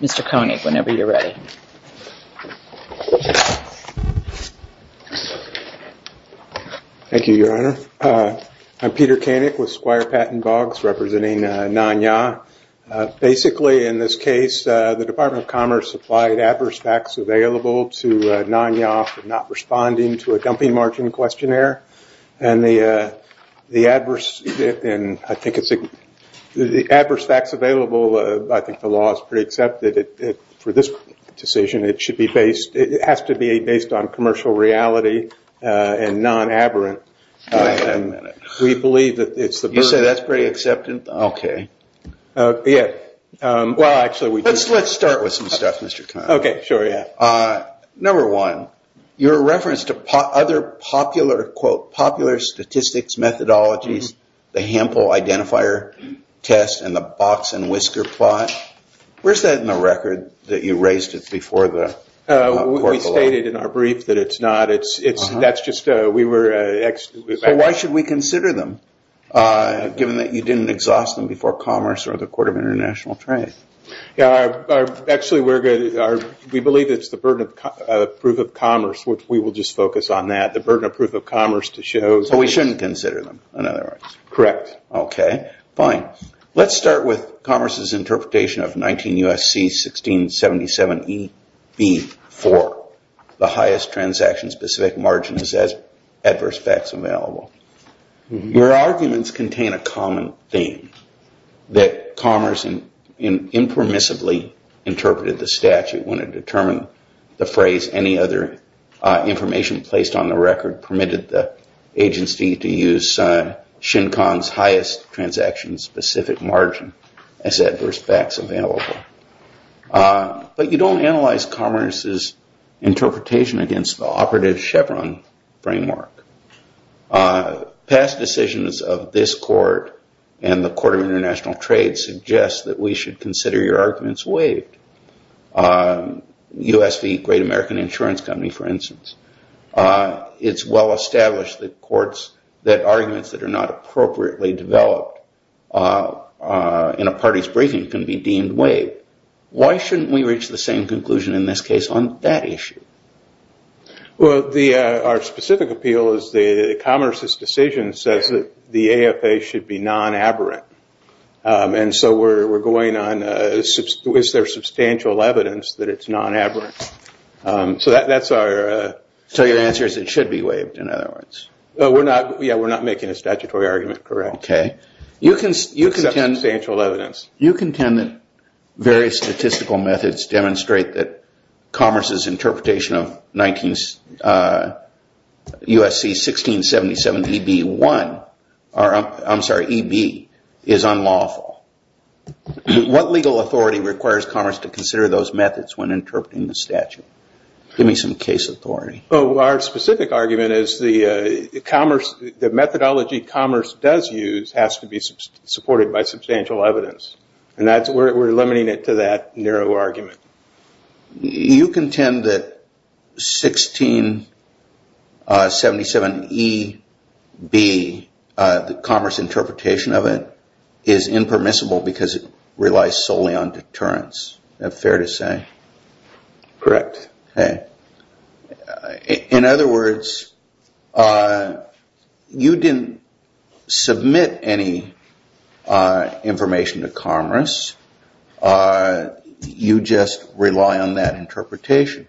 Mr. Koenig, whenever you're ready. Thank you, Your Honor. I'm Peter Koenig with Squire Patent Bogs, representing Nan Ya. Basically, in this case, the Department of Commerce supplied adverse facts available to Nan Ya for not responding to a dumping margin questionnaire. The adverse facts available, I think the law is pretty accepted for this decision. It has to be based on commercial reality and non-aberrant. You say that's pretty accepted? Okay. Let's start with some stuff, Mr. Koenig. Okay, sure. Number one, your reference to other popular quote, popular statistics, methodologies, the Hample Identifier Test and the Box and Whisker Plot, where's that in the record that you raised it before the court? We stated in our brief that it's not. That's just, we were... So why should we consider them, given that you didn't exhaust them before Commerce or the Court of International Trade? Actually, we believe it's the burden of proof of commerce, which we will just focus on that, the burden of proof of commerce to show... So we shouldn't consider them? Correct. Okay, fine. Let's start with Commerce's interpretation of 19 U.S.C. 1677EB4, the highest transaction-specific margin as adverse facts available. Your arguments contain a common theme, that Commerce impermissibly interpreted the statute when it determined the phrase, any other information placed on the record permitted the agency to use Shenkong's highest transaction-specific margin as adverse facts available. But you don't analyze Commerce's interpretation against the operative Chevron framework. Past decisions of this court and the Court of International Trade suggest that we should consider your arguments waived. U.S. v. Great American Insurance Company, for instance. It's well-established that courts, that arguments that are not appropriately developed in a party's briefing can be deemed waived. Why shouldn't we reach the same conclusion in this case on that issue? Well, our specific appeal is that Commerce's decision says that the AFA should be non-aberrant. And so we're going on, is there substantial evidence that it's non-aberrant? So that's our... So your answer is it should be waived, in other words? Yeah, we're not making a statutory argument, correct. Okay. Except substantial evidence. You contend that various statistical methods demonstrate that Commerce's interpretation of U.S.C. 1677 E.B. 1, I'm sorry, E.B., is unlawful. What legal authority requires Commerce to consider those methods when interpreting the statute? Give me some case authority. Our specific argument is the Commerce, the methodology Commerce does use has to be supported by substantial evidence. And we're limiting it to that narrow argument. You contend that 1677 E.B., the Commerce interpretation of it, is impermissible because it relies solely on deterrence. Is that fair to say? Correct. Okay. In other words, you didn't submit any information to Commerce. You just rely on that interpretation.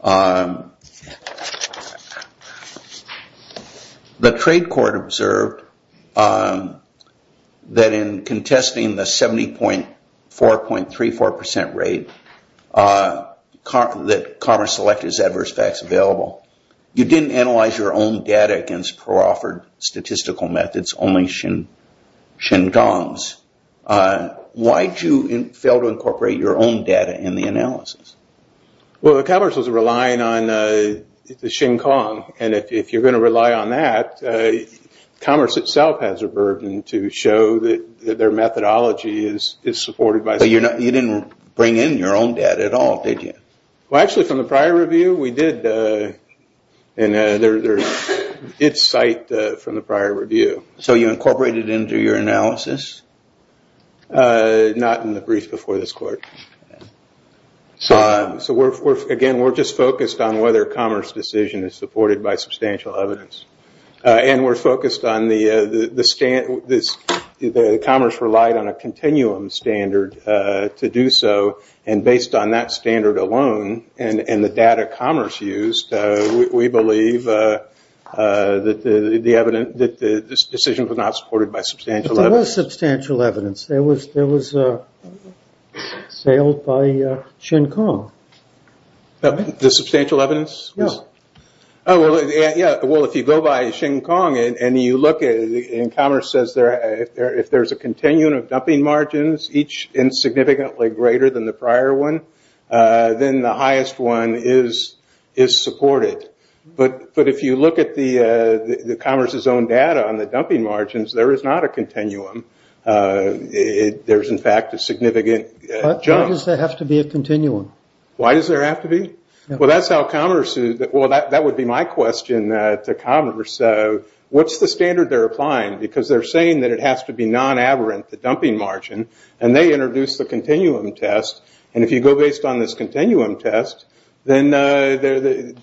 The trade court observed that in contesting the 70.4.34% rate that Commerce selected as adverse facts available. You didn't analyze your own data against pro-offered statistical methods, only Xinkang's. Why did you fail to incorporate your own data in the analysis? Well, the Commerce was relying on the Xinkang. And if you're going to rely on that, Commerce itself has a burden to show that their methodology is supported by... But you didn't bring in your own data at all, did you? Well, actually, from the prior review, we did. And it's cited from the prior review. So you incorporated into your analysis? Not in the brief before this court. So again, we're just focused on whether Commerce decision is supported by substantial evidence. And we're focused on the Commerce relied on standard alone. And the data Commerce used, we believe that the decision was not supported by substantial evidence. But there was substantial evidence. There was a sale by Xinkang. The substantial evidence? Yeah. Well, if you go by Xinkang and you look at it, and Commerce says if there's a continuum of dumping margins, each insignificantly greater than the prior one, then the highest one is supported. But if you look at the Commerce's own data on the dumping margins, there is not a continuum. There's in fact a significant jump. Why does there have to be a continuum? Why does there have to be? Well, that's how Commerce... Well, that would be my question to Commerce. What's the standard they're applying? Because they're saying that it has to be non-avarant the dumping margin. And they introduced the continuum test. And if you go based on this continuum test, then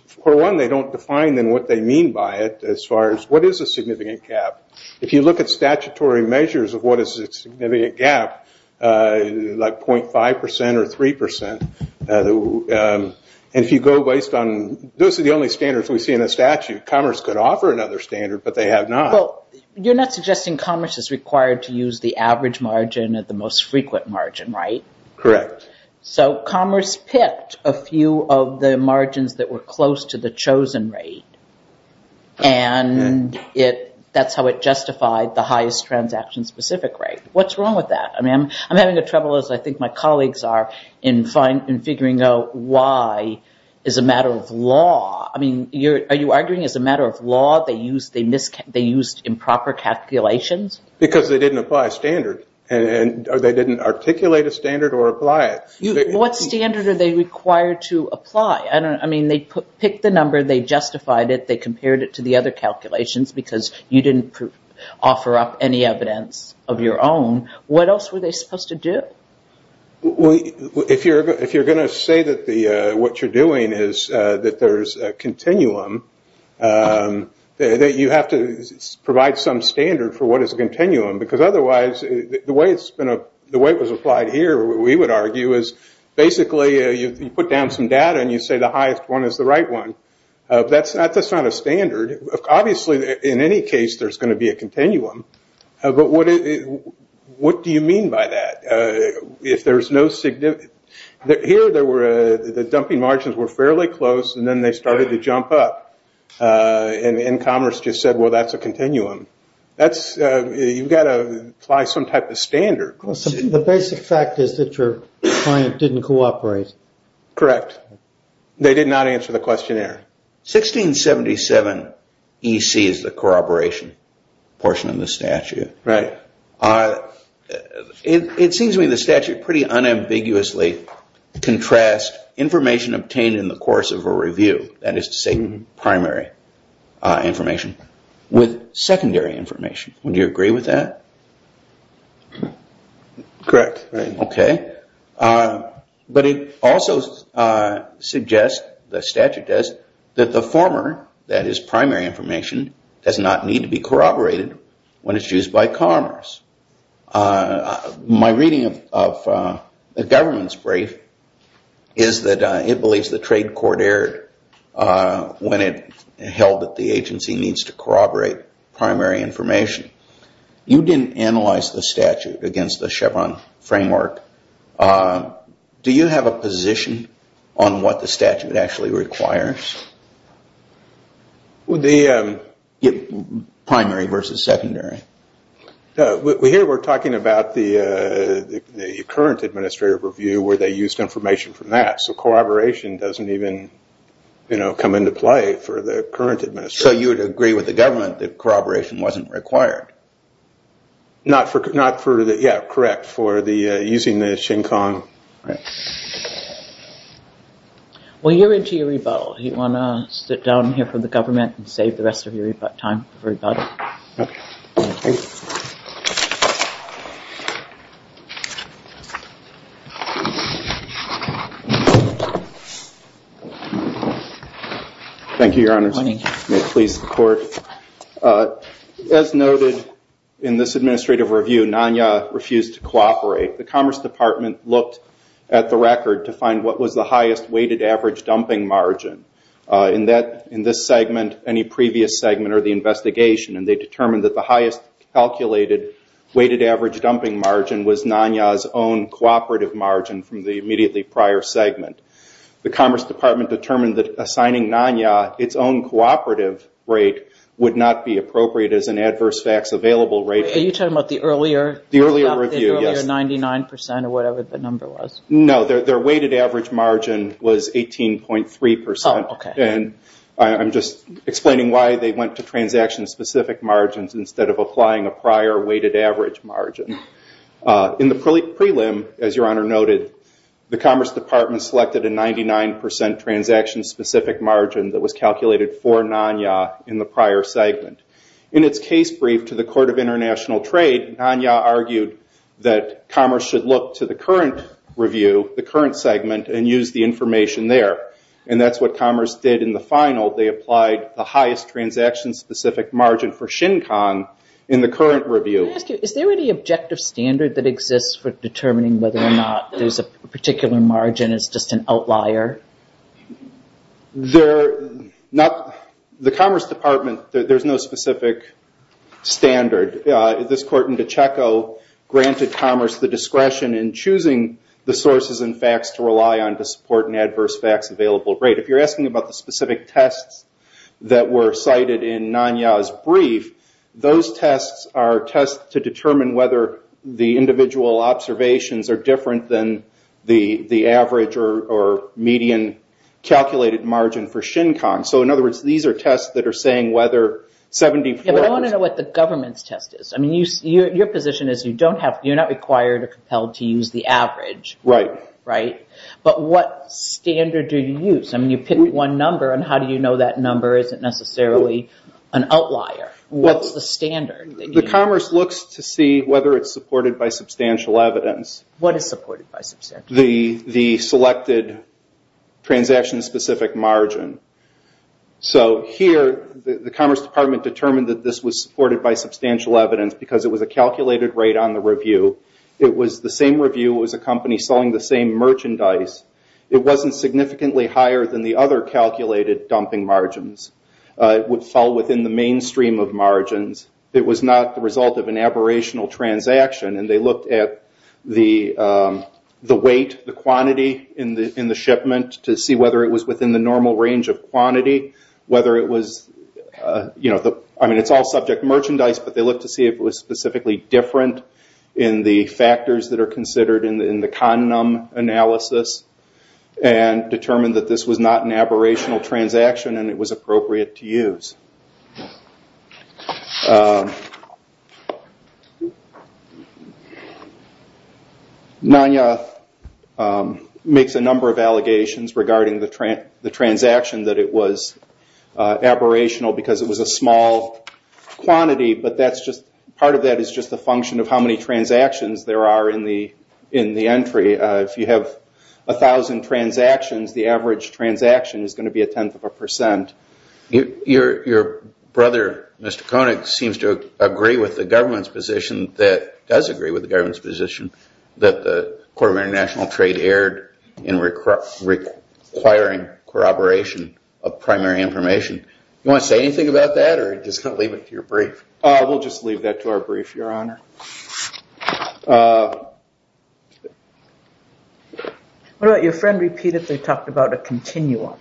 for one, they don't define then what they mean by it as far as what is a significant gap. If you look at statutory measures of what is a significant gap, like 0.5% or 3%, and if you go based on... Those are the only standards we see in the statute. Commerce could offer another standard, but they have not. Well, you're not suggesting Commerce is required to use the average margin at the most frequent margin, right? Correct. So Commerce picked a few of the margins that were close to the chosen rate, and that's how it justified the highest transaction-specific rate. What's wrong with that? I'm having trouble, as I think my colleagues are, in figuring out why as a matter of law... Are you arguing as a matter of law they used improper calculations? Because they didn't apply a standard, or they didn't articulate a standard or apply it. What standard are they required to apply? They picked the number, they justified it, they compared it to the other calculations because you didn't offer up any evidence of your own. What else were they supposed to do? If you're going to say that what you're doing is that there's a continuum, that you have to provide some standard for what is a continuum, because otherwise, the way it was applied here, we would argue, is basically you put down some data and you say the highest one is the right one. That's not a standard. Obviously in any case there's going to be a continuum, but what do you mean by that? Here the dumping margins were fairly close, and then they started to jump up, and Commerce just said, well that's a continuum. You've got to apply some type of standard. The basic fact is that your client didn't cooperate. Correct. They did not answer the questionnaire. 1677 EC is the corroboration portion of the statute. It seems to me the statute pretty unambiguously contrasts information obtained in the course of a review, that is to say primary information, with secondary information. Would you agree with that? Correct. But it also suggests, the statute does, that the former, that is primary information, does not need to be corroborated when it's used by Commerce. My reading of the government's opinion is that it believes the trade court erred when it held that the agency needs to corroborate primary information. You didn't analyze the statute against the Chevron framework. Do you have a position on what the statute actually requires? Primary versus secondary. Here we're talking about the current administrative review where they used information from that, so corroboration doesn't even come into play for the current administration. So you would agree with the government that corroboration wasn't required? Not for the, yeah, correct, for the, using the Shin Kong. Well, you're into your rebuttal. Do you want to sit down here for the government and save the rest of your time for rebuttal? Thank you, your honors. May it please the court. As noted in this administrative review, NANYA refused to cooperate. The Commerce Department looked at the record to find what was the highest weighted average dumping margin in this segment, any previous segment, or the investigation, and they determined that the highest calculated weighted average dumping margin was NANYA's own cooperative margin from the immediately prior segment. The Commerce Department determined that assigning NANYA its own cooperative rate would not be appropriate as an adverse facts available rate. Are you talking about the earlier review, the earlier 99% or whatever the number was? No, their weighted average margin was 18.3%, and I'm just explaining why they went to transaction specific margins instead of applying a prior weighted average margin. In the prelim, as your honor noted, the Commerce Department selected a 99% transaction specific margin that was calculated for NANYA in the prior segment. In its case brief to the Court of International Trade, NANYA argued that Commerce should look to the current review, the current segment, and use the information there, and that's what Commerce did in the final. They applied the highest transaction specific margin for Shin Kong in the current review. Is there any objective standard that exists for determining whether or not there's a particular margin as just an outlier? The Commerce Department, there's no specific standard. This court in DeChecco granted Commerce the discretion in choosing the sources and facts to rely on to support an adverse facts available rate. If you're asking about the specific tests that were cited in NANYA's brief, those tests are tests to determine whether the individual observations are different than the average or median calculated margin for Shin Kong. In other words, these are tests that are saying whether 74... I want to know what the government's test is. Your position is you're not required or compelled to use the average, but what standard do you use? You picked one number, and how do you know that number isn't necessarily an outlier? What's the standard? The Commerce looks to see whether it's supported by substantial evidence. What is supported by substantial evidence? The selected transaction specific margin. Here, the Commerce Department determined that this was supported by substantial evidence because it was a calculated rate on the review. It was the same review. It was a company selling the same merchandise. It wasn't significantly higher than the other calculated dumping margins. It would fall within the mainstream of margins. It was not the result of an aberrational transaction. They looked at the weight, the quantity in the shipment to see whether it was within the normal range of quantity, whether it was... It's all subject merchandise, but they looked to see if it was specifically different in the factors that are considered in the condom analysis and determined that this was not an aberrational transaction and it was appropriate to use. NANYA makes a number of allegations regarding the transaction that it was aberrational because it was a small quantity, but part of that is just a function of how many transactions there are in the entry. If you have a thousand transactions, the average transaction is going to be a tenth of a percent. Your brother, Mr. Koenig, seems to agree with the government's position that... Does agree with the government's position that the Corp of International Trade erred in requiring corroboration of primary information. Do you want to say anything about that or just leave it to your brief? We'll just leave that to our brief. Your Honor. Your friend repeatedly talked about a continuum,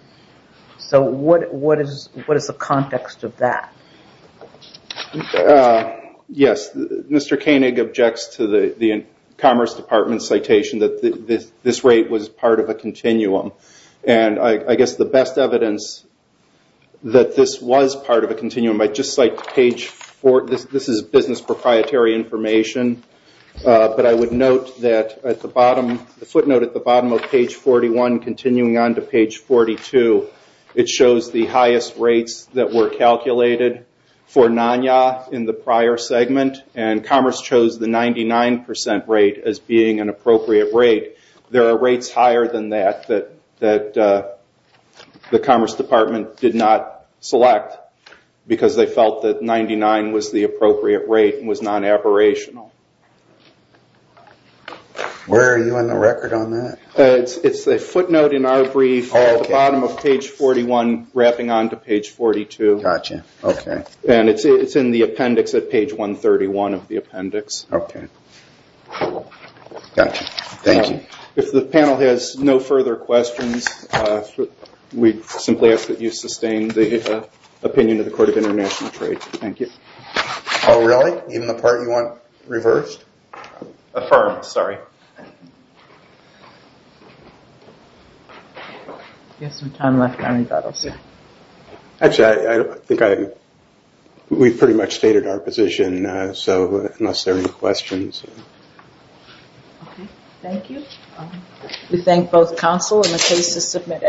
so what is the context of that? Yes. Mr. Koenig objects to the Commerce Department's citation that this rate was part of a continuum. I guess the best evidence that this was part of a continuum. This is business proprietary information, but I would note that at the bottom, the footnote at the bottom of page 41 continuing on to page 42, it shows the highest rates that were calculated for NANYA in the prior segment and Commerce chose the 99% rate as being an appropriate rate. There are rates higher than that that the Commerce Department did not select because they felt that 99 was the appropriate rate and was non-aborational. Where are you on the record on that? It's a footnote in our brief at the bottom of page 41 wrapping on to page 42. It's in the appendix at page 131 of the appendix. Okay. Got you. Thank you. If the panel has no further questions, we simply ask that you sustain the opinion of the Court of International Trade. Thank you. Oh, really? Even the part you want reversed? Affirmed. Sorry. We have some time left now. Actually, I think we've pretty much stated our position, so unless there are any questions. Okay. Thank you.